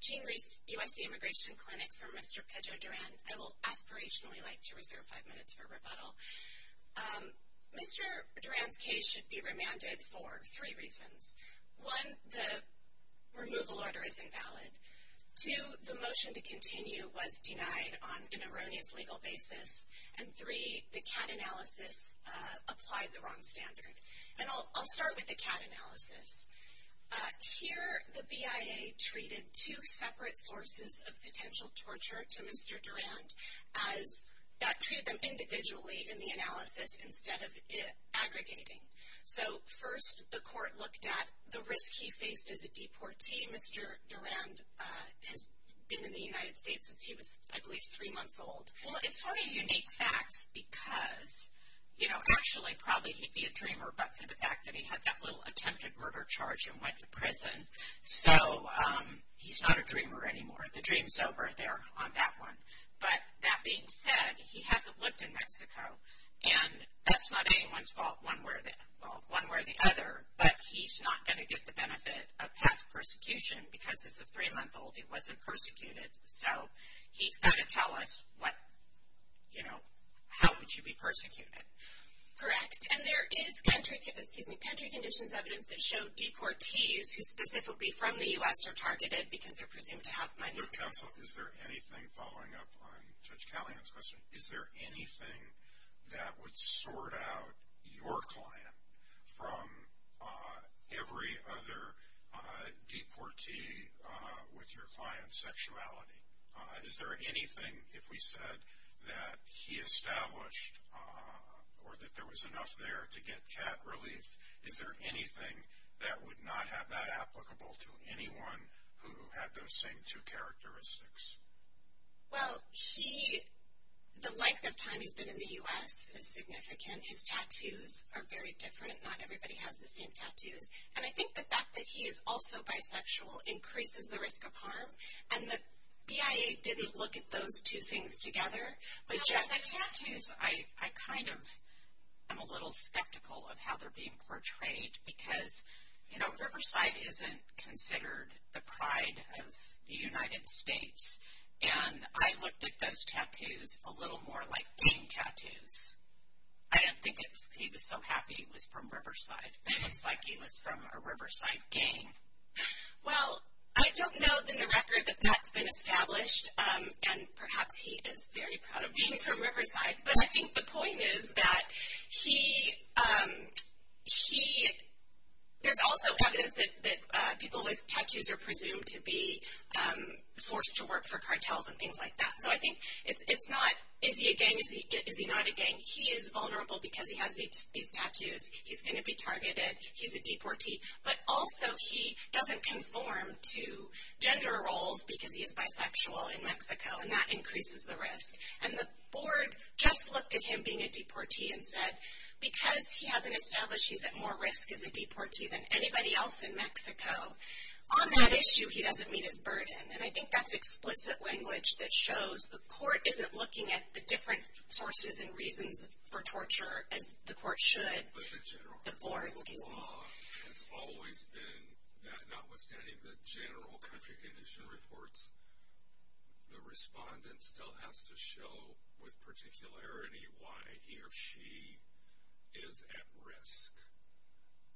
Jean Reese, USC Immigration Clinic, for Mr. Pedro Durand. I will aspirationally like to reserve five minutes for rebuttal. Mr. Durand's case should be remanded for three reasons. One, the removal order is invalid. Two, the motion to continue was denied on an erroneous legal basis. And three, the CAT analysis applied the wrong standard. And I'll start with the CAT analysis. Here, the BIA treated two separate sources of potential torture to Mr. Durand as that treated them individually in the analysis instead of aggregating. So first, the court looked at the risk he faced as a deportee. Mr. Durand has been in the United States since he was, I believe, three months old. Well, it's sort of unique facts because, you know, actually probably he'd be a dreamer but for the fact that he had that little attempted murder charge and went to prison. So he's not a dreamer anymore. The dream's over there on that one. But that being said, he hasn't lived in Mexico. And that's not anyone's fault one way or the other. But he's not going to get the benefit of PEF persecution because as a three-month-old he wasn't persecuted. So he's got to tell us what, you know, how would you be persecuted. Correct. And there is country, excuse me, country conditions evidence that show deportees who specifically from the U.S. are targeted because they're presumed to have money. Your counsel, is there anything following up on Judge Callahan's question? Is there anything that would sort out your client from every other deportee with your client's sexuality? Is there anything, if we said that he established or that there was enough there to get cat relief, is there anything that would not have that applicable to anyone who had those same two characteristics? Well, he, the length of time he's been in the U.S. is significant. His tattoos are very different. Not everybody has the same tattoos. And I think the fact that he is also bisexual increases the risk of harm. And the BIA didn't look at those two things together. But just. Well, his tattoos, I kind of am a little skeptical of how they're being portrayed. Because, you know, Riverside isn't considered the pride of the United States. And I looked at those tattoos a little more like gang tattoos. I didn't think he was so happy it was from Riverside. It looks like he was from a Riverside gang. Well, I don't know in the record that that's been established. And perhaps he is very proud of being from Riverside. But I think the point is that he, there's also evidence that people with tattoos are presumed to be forced to work for cartels and things like that. So I think it's not, is he a gang, is he not a gang? He is vulnerable because he has these tattoos. He's going to be targeted. He's a deportee. But also, he doesn't conform to gender roles because he is bisexual in Mexico. And that increases the risk. And the board just looked at him being a deportee and said, because he hasn't established he's at more risk as a deportee than anybody else in Mexico, on that issue he doesn't meet his burden. And I think that's explicit language that shows the court isn't looking at the different sources and reasons for torture as the court should. The board, excuse me. The law has always been that notwithstanding the general country condition reports, the respondent still has to show with particularity why he or she is at risk.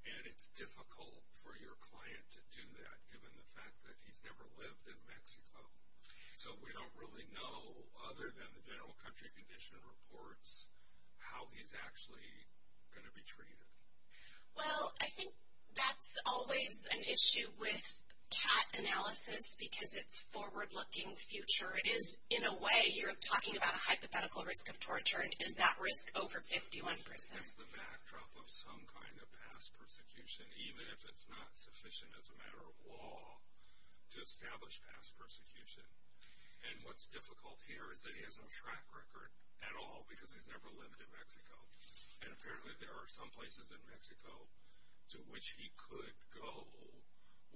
And it's difficult for your client to do that, given the fact that he's never lived in Mexico. So we don't really know, other than the general country condition reports, how he's actually going to be treated. Well, I think that's always an issue with CAT analysis because it's forward-looking future. It is, in a way, you're talking about a hypothetical risk of torture. And is that risk over 51%? That's the backdrop of some kind of past persecution, even if it's not sufficient as a matter of law to establish past persecution. And what's difficult here is that he has no track record at all because he's never lived in Mexico. And apparently there are some places in Mexico to which he could go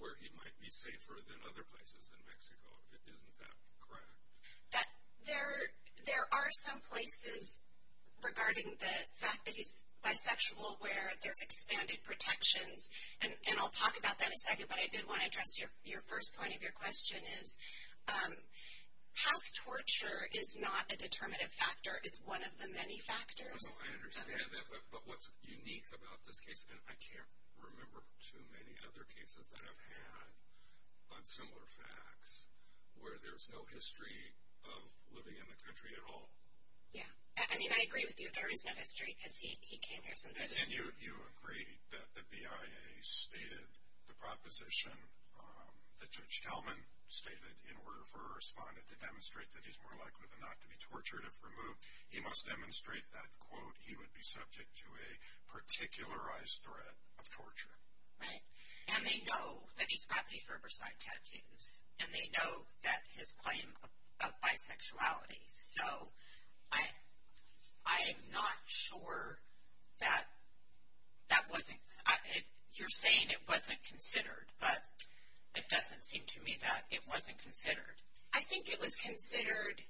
where he might be safer than other places in Mexico. Isn't that correct? That there are some places regarding the fact that he's bisexual where there's expanded protections. And I'll talk about that in a second. But I did want to address your first point of your question is, past torture is not a determinative factor. It's one of the many factors. I understand that. But what's unique about this case, and I can't remember too many other cases that I've had on similar facts, where there's no history of living in the country at all. Yeah. I mean, I agree with you. There is no history because he came here since his. And you agree that the BIA stated the proposition that Judge Talman stated in order for a respondent to demonstrate that he's more likely than not to be tortured if removed. He must demonstrate that, quote, he would be subject to a particularized threat of torture. Right. And they know that he's got these riverside tattoos. And they know that his claim of bisexuality. So, I'm not sure that that wasn't. You're saying it wasn't considered. But it doesn't seem to me that it wasn't considered. I think it was considered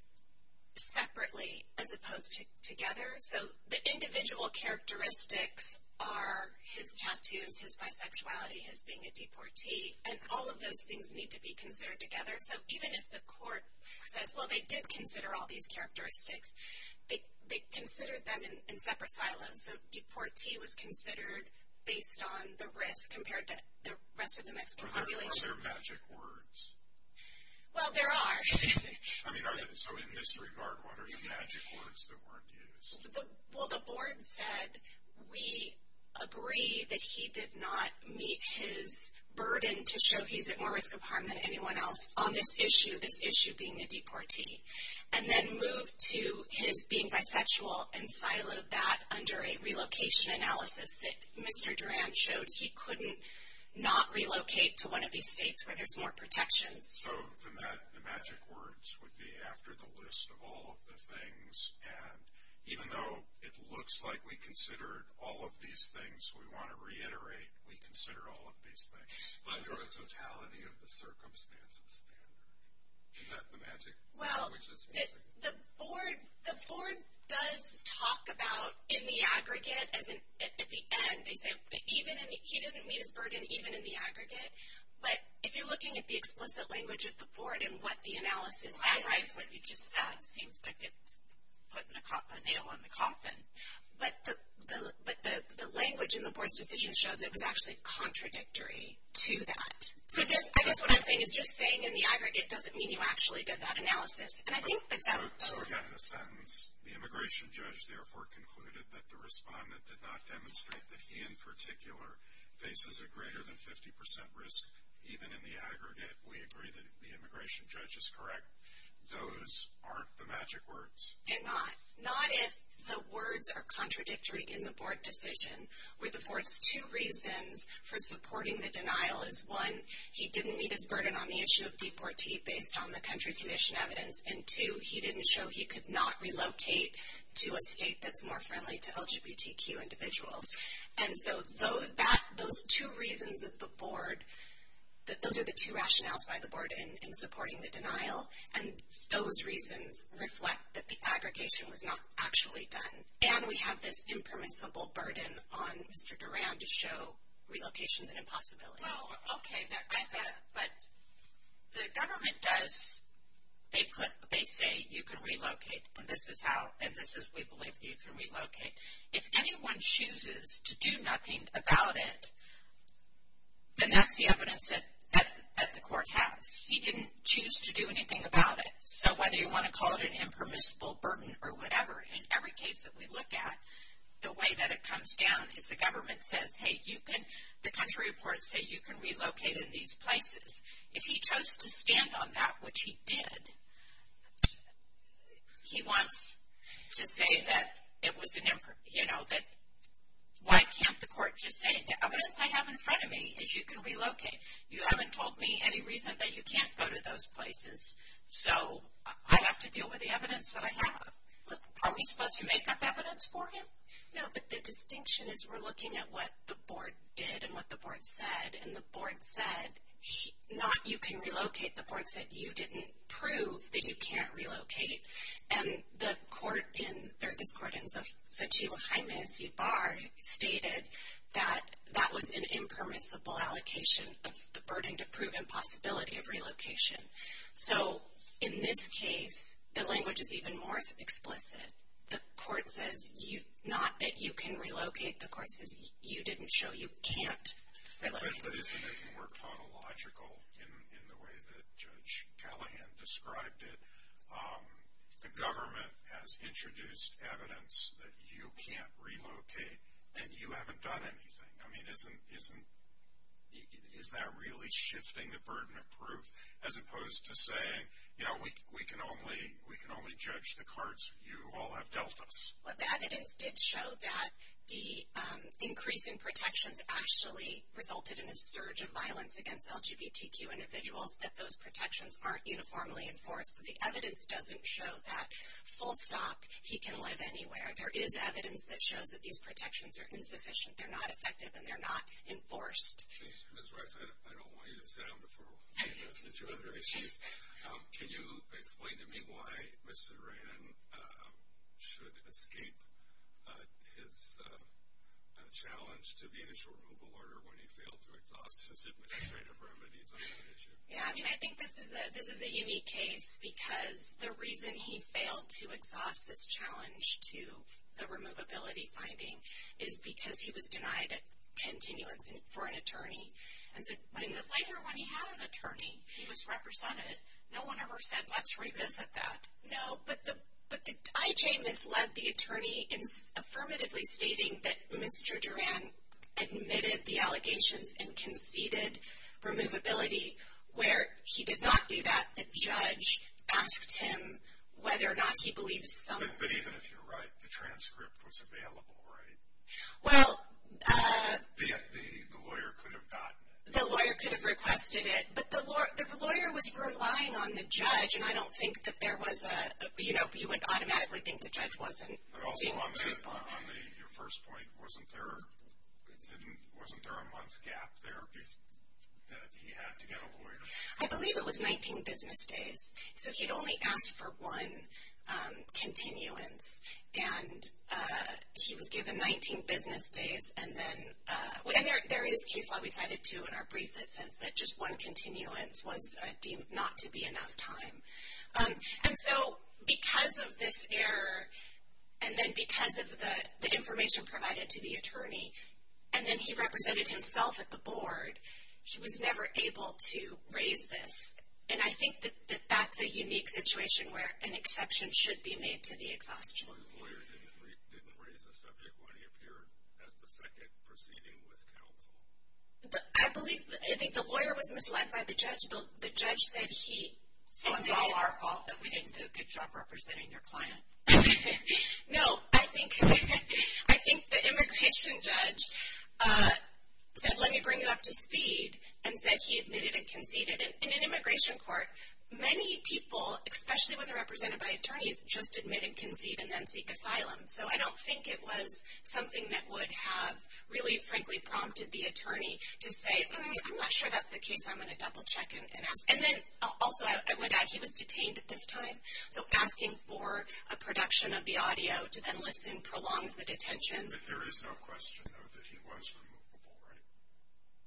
separately as opposed to together. So, the individual characteristics are his tattoos, his bisexuality, his being a deportee. And all of those things need to be considered together. So, even if the court says, well, they did consider all these characteristics, they considered them in separate silos. So, deportee was considered based on the risk compared to the rest of the Mexican population. Are those their magic words? Well, there are. I mean, so in this regard, what are the magic words that weren't used? Well, the board said we agree that he did not meet his burden to show he's at more risk of harm than anyone else on this issue, this issue being a deportee. And then moved to his being bisexual and siloed that under a relocation analysis that Mr. Duran showed he couldn't not relocate to one of these states where there's more protections. So, the magic words would be after the list of all of the things. And even though it looks like we considered all of these things, we want to reiterate we consider all of these things. Under a totality of the circumstances standard. Is that the magic? Well, the board does talk about in the aggregate, as in at the end, they say even in, he didn't meet his burden even in the aggregate. But if you're looking at the explicit language of the board and what the analysis is. I agree with what you just said. It seems like it's putting a nail in the coffin. But the language in the board's decision shows it was actually contradictory to that. So, I guess what I'm saying is just saying in the aggregate doesn't mean you actually did that analysis. And I think that that. So, again, in a sentence, the immigration judge, therefore, concluded that the respondent did not demonstrate that he in particular faces a greater than 50% risk even in the aggregate. We agree that the immigration judge is correct. Those aren't the magic words. They're not. Not if the words are contradictory in the board decision. With the board's two reasons for supporting the denial is one, he didn't meet his burden on the issue of deportee based on the country condition evidence. And two, he didn't show he could not relocate to a state that's more friendly to LGBTQ individuals. And so, those two reasons of the board, those are the two rationales by the board in supporting the denial. And those reasons reflect that the aggregation was not actually done. And we have this impermissible burden on Mr. Duran to show relocations an impossibility. Well, okay, but the government does, they put, they say you can relocate. And this is how, and this is we believe that you can relocate. If anyone chooses to do nothing about it, then that's the evidence that the court has. He didn't choose to do anything about it. So, whether you want to call it an impermissible burden or whatever, in every case that we look at, the way that it comes down is the government says, hey, you can, the country reports say you can relocate in these places. If he chose to stand on that, which he did, he wants to say that it was an, you know, that why can't the court just say the evidence I have in front of me is you can relocate. You haven't told me any reason that you can't go to those places. So, I have to deal with the evidence that I have. Are we supposed to make up evidence for him? No, but the distinction is we're looking at what the board did and what the board said. And the board said, not you can relocate. The board said you didn't prove that you can't relocate. And the court in, or this court in Xochitl Jaime Zibar stated that that was an impermissible allocation of the burden to prove impossibility of relocation. So, in this case, the language is even more explicit. The court says you, not that you can relocate. The court says you didn't show you can't relocate. But isn't it more tautological in the way that Judge Callahan described it? The government has introduced evidence that you can't relocate and you haven't done anything. I mean, isn't, isn't, is that really shifting the burden of proof as opposed to saying, you know, we can only, we can only judge the cards you all have dealt us. Well, the evidence did show that the increase in protections actually resulted in a surge of violence against LGBTQ individuals, that those protections aren't uniformly enforced. So, the evidence doesn't show that full stop, he can live anywhere. There is evidence that shows that these protections are insufficient. They're not effective and they're not enforced. Ms. Rice, I don't want you to sit down before we get into the two other issues. Can you explain to me why Mr. Duran should escape his challenge to be in a short removal order when he failed to exhaust his administrative remedies on that issue? Yeah, I mean, I think this is a, this is a unique case because the reason he failed to exhaust this challenge to the removability finding is because he was denied a continuance for an attorney. But later when he had an attorney, he was represented. No one ever said, let's revisit that. No, but the, but the IJ misled the attorney in affirmatively stating that Mr. Duran admitted the allegations and conceded removability where he did not do that. The judge asked him whether or not he believes some. But even if you're right, the transcript was available, right? Well. The lawyer could have gotten it. The lawyer could have requested it, but the lawyer was relying on the judge and I don't think that there was a, you know, you would automatically think the judge wasn't being truthful. On your first point, wasn't there, wasn't there a month gap there that he had to get a lawyer? I believe it was 19 business days. So he'd only asked for one continuance and he was given 19 business days and then, and there is case law we cited too in our brief that says that just one continuance was deemed not to be enough time. And so because of this error and then because of the information provided to the attorney and then he represented himself at the board, he was never able to raise this. And I think that that's a unique situation where an exception should be made to the exhaustion. So his lawyer didn't raise the subject when he appeared as the second proceeding with counsel? I believe, I think the lawyer was misled by the judge. The judge said he. So it's all our fault that we didn't do a good job representing your client? No, I think, I think the immigration judge said let me bring it up to speed and said he admitted and conceded. In an immigration court, many people, especially when they're represented by attorneys, just admit and concede and then seek asylum. So I don't think it was something that would have really, frankly, prompted the attorney to say I'm not sure that's the case. I'm going to double check and ask. And then also I would add he was detained at this time. So asking for a production of the audio to then listen prolongs the detention. But there is no question though that he was removable, right?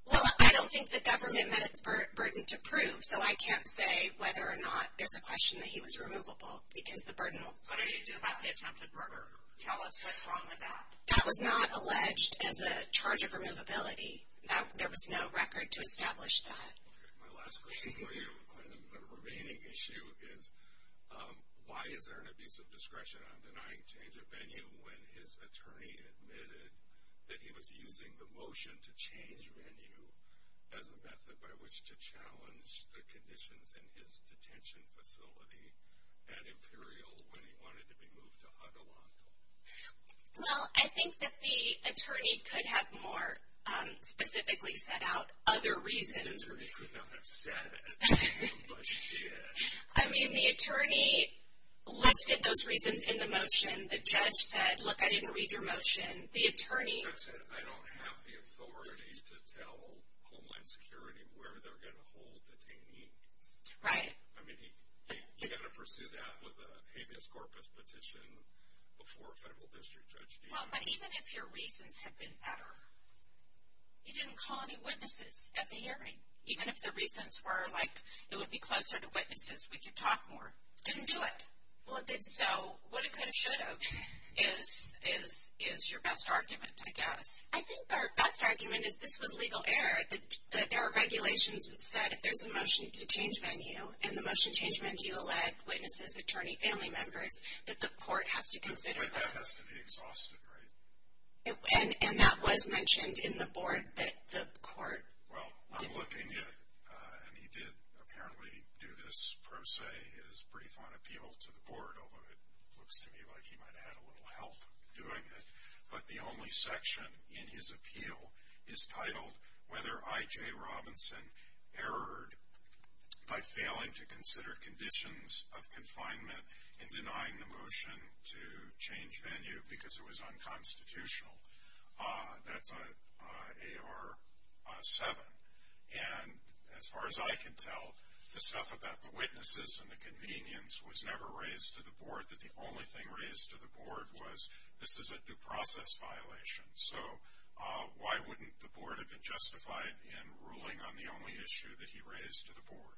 Well, I don't think the government met its burden to prove. So I can't say whether or not there's a question that he was removable because the burden. What did he do about the attempted murder? Tell us what's wrong with that. That was not alleged as a charge of removability. There was no record to establish that. My last question for you on the remaining issue is why is there an abuse of discretion on denying change of venue when his attorney admitted that he was using the motion to change venue as a method by which to challenge the conditions in his detention facility at Imperial when he wanted to be moved to Huddle Hospital? Well, I think that the attorney could have more specifically set out other reasons. The attorney could not have said it, but she did. I mean, the attorney listed those reasons in the motion. The judge said, look, I didn't read your motion. The attorney. That's it. I don't have the authority to tell Homeland Security where they're going to hold detainees. Right. I mean, you've got to pursue that with a habeas corpus petition before a federal district judge. Well, but even if your reasons had been better, he didn't call any witnesses at the hearing. Even if the reasons were like it would be closer to witnesses, we could talk more. Didn't do it. Well, it did. So, what it could have, should have is your best argument, I guess. I think our best argument is this was legal error. There are regulations that said if there's a motion to change venue, and the motion changed venue led witnesses, attorney, family members, that the court has to consider that. But that has to be exhausted, right? And that was mentioned in the board that the court. Well, I'm looking at, and he did apparently do this pro se, his brief on appeal to the board, although it looks to me like he might have had a little help doing it. But the only section in his appeal is titled whether I.J. Robinson erred by failing to consider conditions of confinement in denying the motion to change venue because it was unconstitutional. That's AR7. And as far as I can tell, the stuff about the witnesses and the convenience was never raised to the board. That the only thing raised to the board was this is a due process violation. So, why wouldn't the board have been justified in ruling on the only issue that he raised to the board?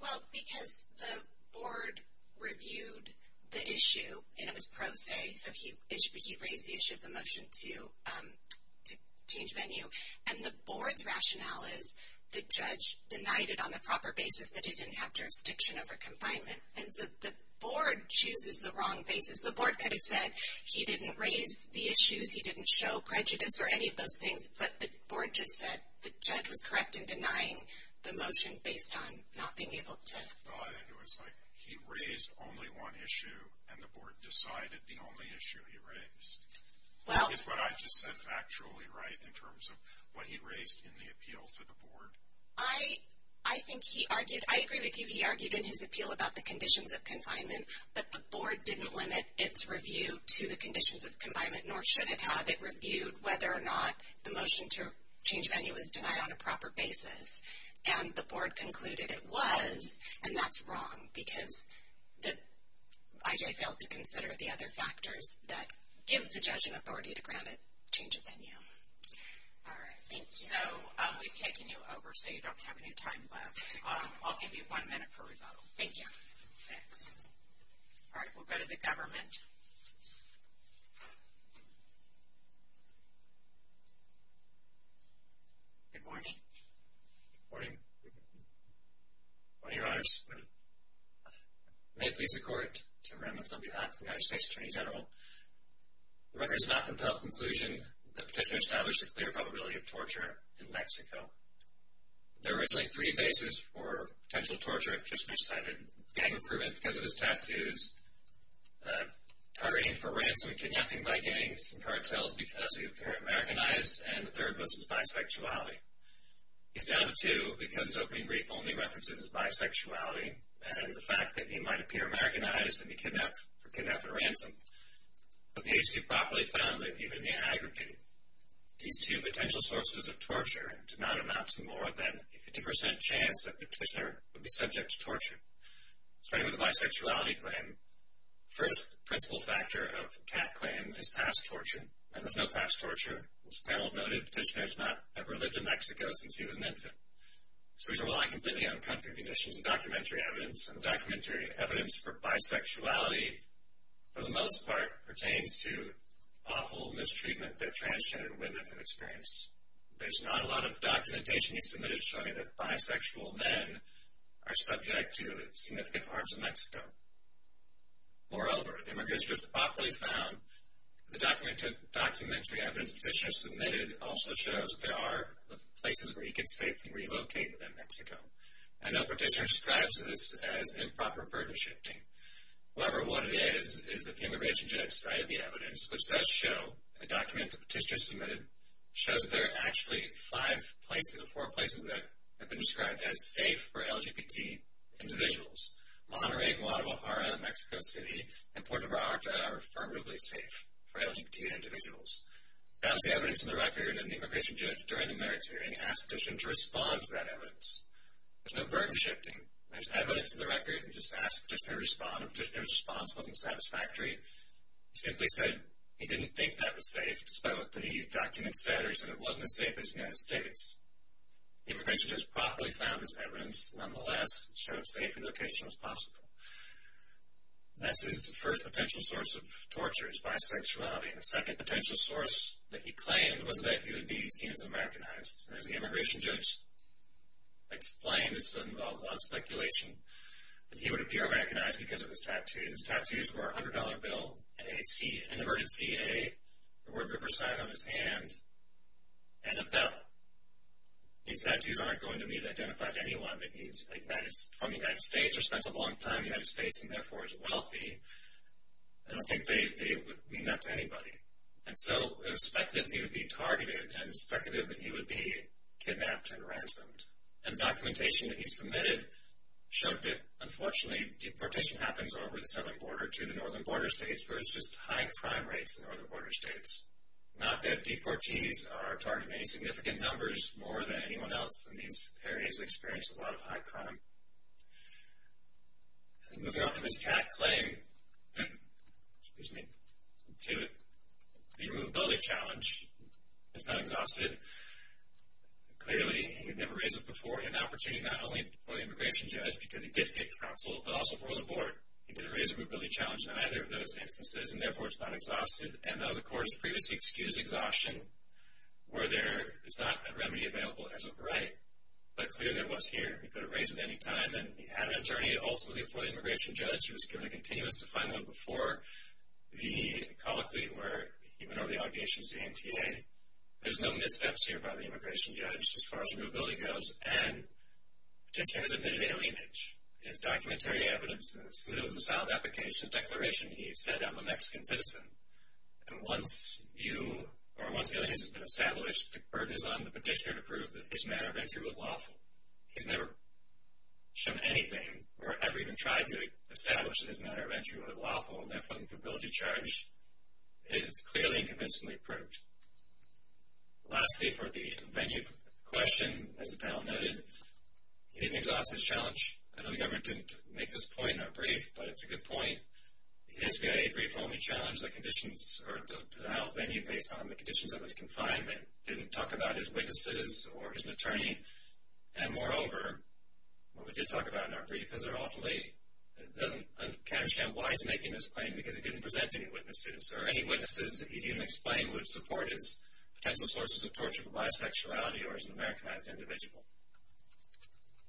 Well, because the board reviewed the issue, and it was pro se. So, he raised the issue of the motion to change venue. And the board's rationale is the judge denied it on the proper basis that he didn't have jurisdiction over confinement. And so, the board chooses the wrong basis. The board could have said he didn't raise the issues, he didn't show prejudice or any of those things, but the board just said the judge was correct in denying the motion based on not being able to. Well, I think it was like he raised only one issue, and the board decided the only issue he raised. Is what I just said factually right in terms of what he raised in the appeal to the board? I think he argued, I agree with you. He argued in his appeal about the conditions of confinement, but the board didn't limit its review to the conditions of confinement, nor should it have it reviewed whether or not the motion to change venue was denied on a proper basis. And the board concluded it was, and that's wrong. Because the, I.J. failed to consider the other factors that give the judge an authority to grant a change of venue. All right, thank you. So, we've taken you over, so you don't have any time left. I'll give you one minute for rebuttal. Thank you. Thanks. All right, we'll go to the government. Good morning. Morning. Morning, Your Honors. May it please the court, Tim Remitz. I'll be back, United States Attorney General. The record is not compelled to conclusion that Petitioner established a clear probability of torture in Mexico. There were originally three bases for potential torture in Petitioner's side of gang improvement. Because of his tattoos, targeting for ransom, kidnapping by gangs, and cartels because he appeared Americanized, and the third was his bisexuality. He's down to two because his opening brief only references his bisexuality and the fact that the agency properly found that even the aggravated, these two potential sources of torture did not amount to more than a 50% chance that Petitioner would be subject to torture. Starting with the bisexuality claim, first principal factor of the cat claim is past torture, and there's no past torture. As the panel noted, Petitioner has not ever lived in Mexico since he was an infant. So, we rely completely on country conditions and documentary evidence, and the documentary evidence for bisexuality, for the most part, pertains to awful mistreatment that transgender women have experienced. There's not a lot of documentation he submitted showing that bisexual men are subject to significant harms in Mexico. Moreover, the records just properly found the documentary evidence Petitioner submitted also shows there are places where he could safely relocate within Mexico. I know Petitioner describes this as improper burden shifting. However, what it is is that the immigration judge cited the evidence, which does show a document that Petitioner submitted shows that there are actually five places or four places that have been described as safe for LGBT individuals. Monterrey, Guadalajara, Mexico City, and Puerto Vallarta are affirmatively safe for LGBT individuals. That was the evidence in the record, and the immigration judge, during the merits hearing, asked Petitioner to respond to that evidence. There's no burden shifting. There's evidence in the record. He just asked Petitioner to respond, and Petitioner's response wasn't satisfactory. He simply said he didn't think that was safe, despite what the document said, or he said it wasn't as safe as the United States. The immigration judge properly found this evidence. Nonetheless, it showed safe relocation was possible. That's his first potential source of torture is bisexuality, and the second potential source that he claimed was that he would be seen as Americanized. As the immigration judge explained, this would involve a lot of speculation, that he would appear Americanized because of his tattoos. His tattoos were a $100 bill, an inverted C-A, the word Riverside on his hand, and a bell. These tattoos aren't going to be identified to anyone that means, like, that is from the United States or spent a long time in the United States and, therefore, is wealthy. I don't think they would mean that to anybody. And so, it was speculated that he would be targeted, and it was speculated that he would be kidnapped and ransomed. And documentation that he submitted showed that, unfortunately, deportation happens over the southern border to the northern border states, where it's just high crime rates in northern border states. Not that deportees are targeted in any significant numbers, more than anyone else in these areas experience a lot of high crime. Moving on from his cat claim, excuse me, to the immovability challenge, it's not exhausted. Clearly, he had never raised it before. An opportunity not only for the immigration judge, because he did take counsel, but also for the board, he didn't raise the immovability challenge in either of those instances, and, therefore, it's not exhausted. And, though the court has previously excused exhaustion, where there is not a remedy available as of right, but, clearly, it was here. He could have raised it at any time, and he had an attorney, ultimately, before the immigration judge, who was given a continuous to find out before the colloquy where he went over the allegations to the NTA. There's no missteps here by the immigration judge, as far as immovability goes, and petitioner has admitted alienage. In his documentary evidence, it was a solid application, declaration he said, I'm a Mexican citizen. And, once you, or once the alienation has been established, the burden is on the petitioner to prove that his manner of entry was lawful. He's never shown anything, or ever even tried to establish that his manner of entry was lawful, and, therefore, the immovability charge is clearly and convincingly proved. Lastly, for the venue question, as the panel noted, he didn't exhaust his challenge. I know the government didn't make this point in our brief, but it's a good point. The SBIA brief only challenged the conditions, or the denial of venue based on the conditions of his confinement, didn't talk about his witnesses or his attorney. And, moreover, what we did talk about in our brief is they're all delayed. It doesn't, I can't understand why he's making this claim, because he didn't present any witnesses. Or, any witnesses, it's easy to explain, would support his potential sources of torture for bisexuality, or as an Americanized individual.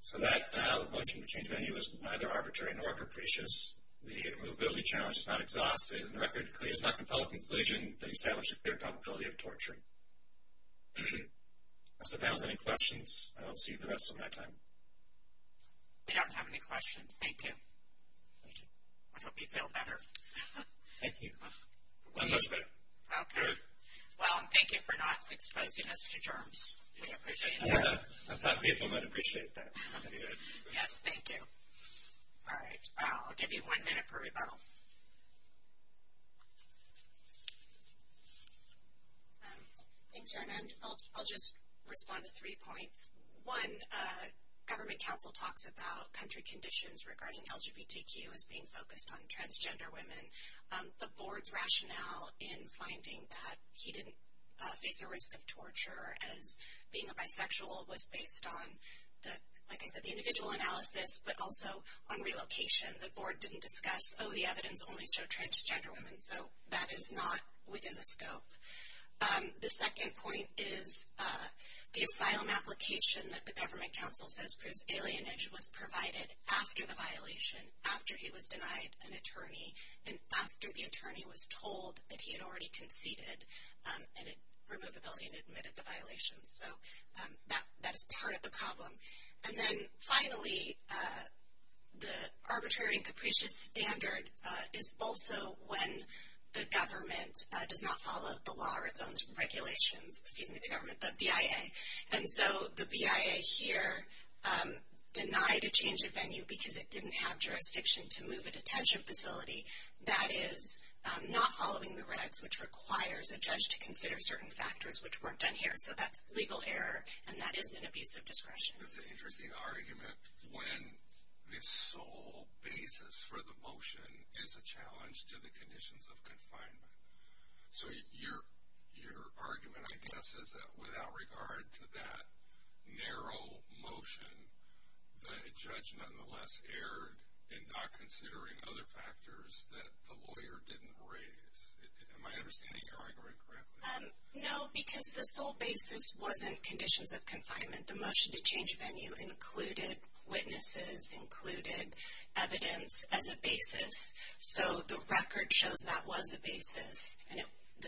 So, that denial of motion to change venue is neither arbitrary nor capricious. The immovability challenge is not exhaustive, and the record is clear. It's not a compelling conclusion that established a clear probability of torture. Does the panel have any questions? I don't see the rest of my time. We don't have any questions. Thank you. Thank you. I hope you feel better. Thank you. I'm much better. Okay. Well, and thank you for not exposing us to germs. We appreciate that. I thought people might appreciate that. Yes, thank you. All right. I'll give you one minute per rebuttal. Thanks, Erin. I'll just respond to three points. One, government counsel talks about country conditions regarding LGBTQ as being focused on transgender women. The board's rationale in finding that he didn't face a risk of torture as being a bisexual was based on the, like I said, the individual analysis, but also on relocation. The board didn't discuss, oh, the evidence only showed transgender women. So, that is not within the scope. The second point is the asylum application that the government counsel says proves alienation was provided after the violation, after he was denied an attorney, and after the attorney was told that he had already conceded and it removed the ability to admit at the violation. So, that is part of the problem. And then, finally, the arbitrary and capricious standard is also when the government does not follow the law or its own regulations, excuse me, the government, the BIA. And so, the BIA here denied a change of venue because it didn't have jurisdiction to move a detention facility that is not following the regs, which requires a judge to consider certain factors, which weren't done here. So, that's legal error, and that is an abuse of discretion. It's an interesting argument when the sole basis for the motion is a challenge to the conditions of confinement. So, your argument, I guess, is that without regard to that narrow motion, the judge nonetheless erred in not considering other factors that the lawyer didn't raise. Am I understanding your argument correctly? The motion to change venue included witnesses, included evidence as a basis. So, the record shows that was a basis, and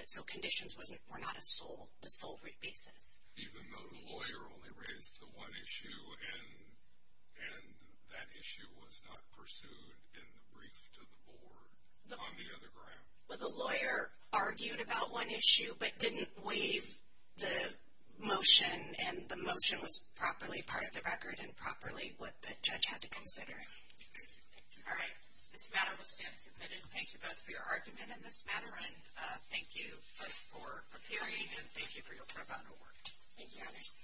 so conditions were not a sole, the sole root basis. Even though the lawyer only raised the one issue, and that issue was not pursued in the brief to the board on the other ground. Well, the lawyer argued about one issue, but didn't waive the motion, and the motion was properly part of the record, and properly what the judge had to consider. All right. This matter will stand as admitted. Thank you both for your argument in this matter, and thank you both for appearing, and thank you for your pro bono work. Thank you, honors.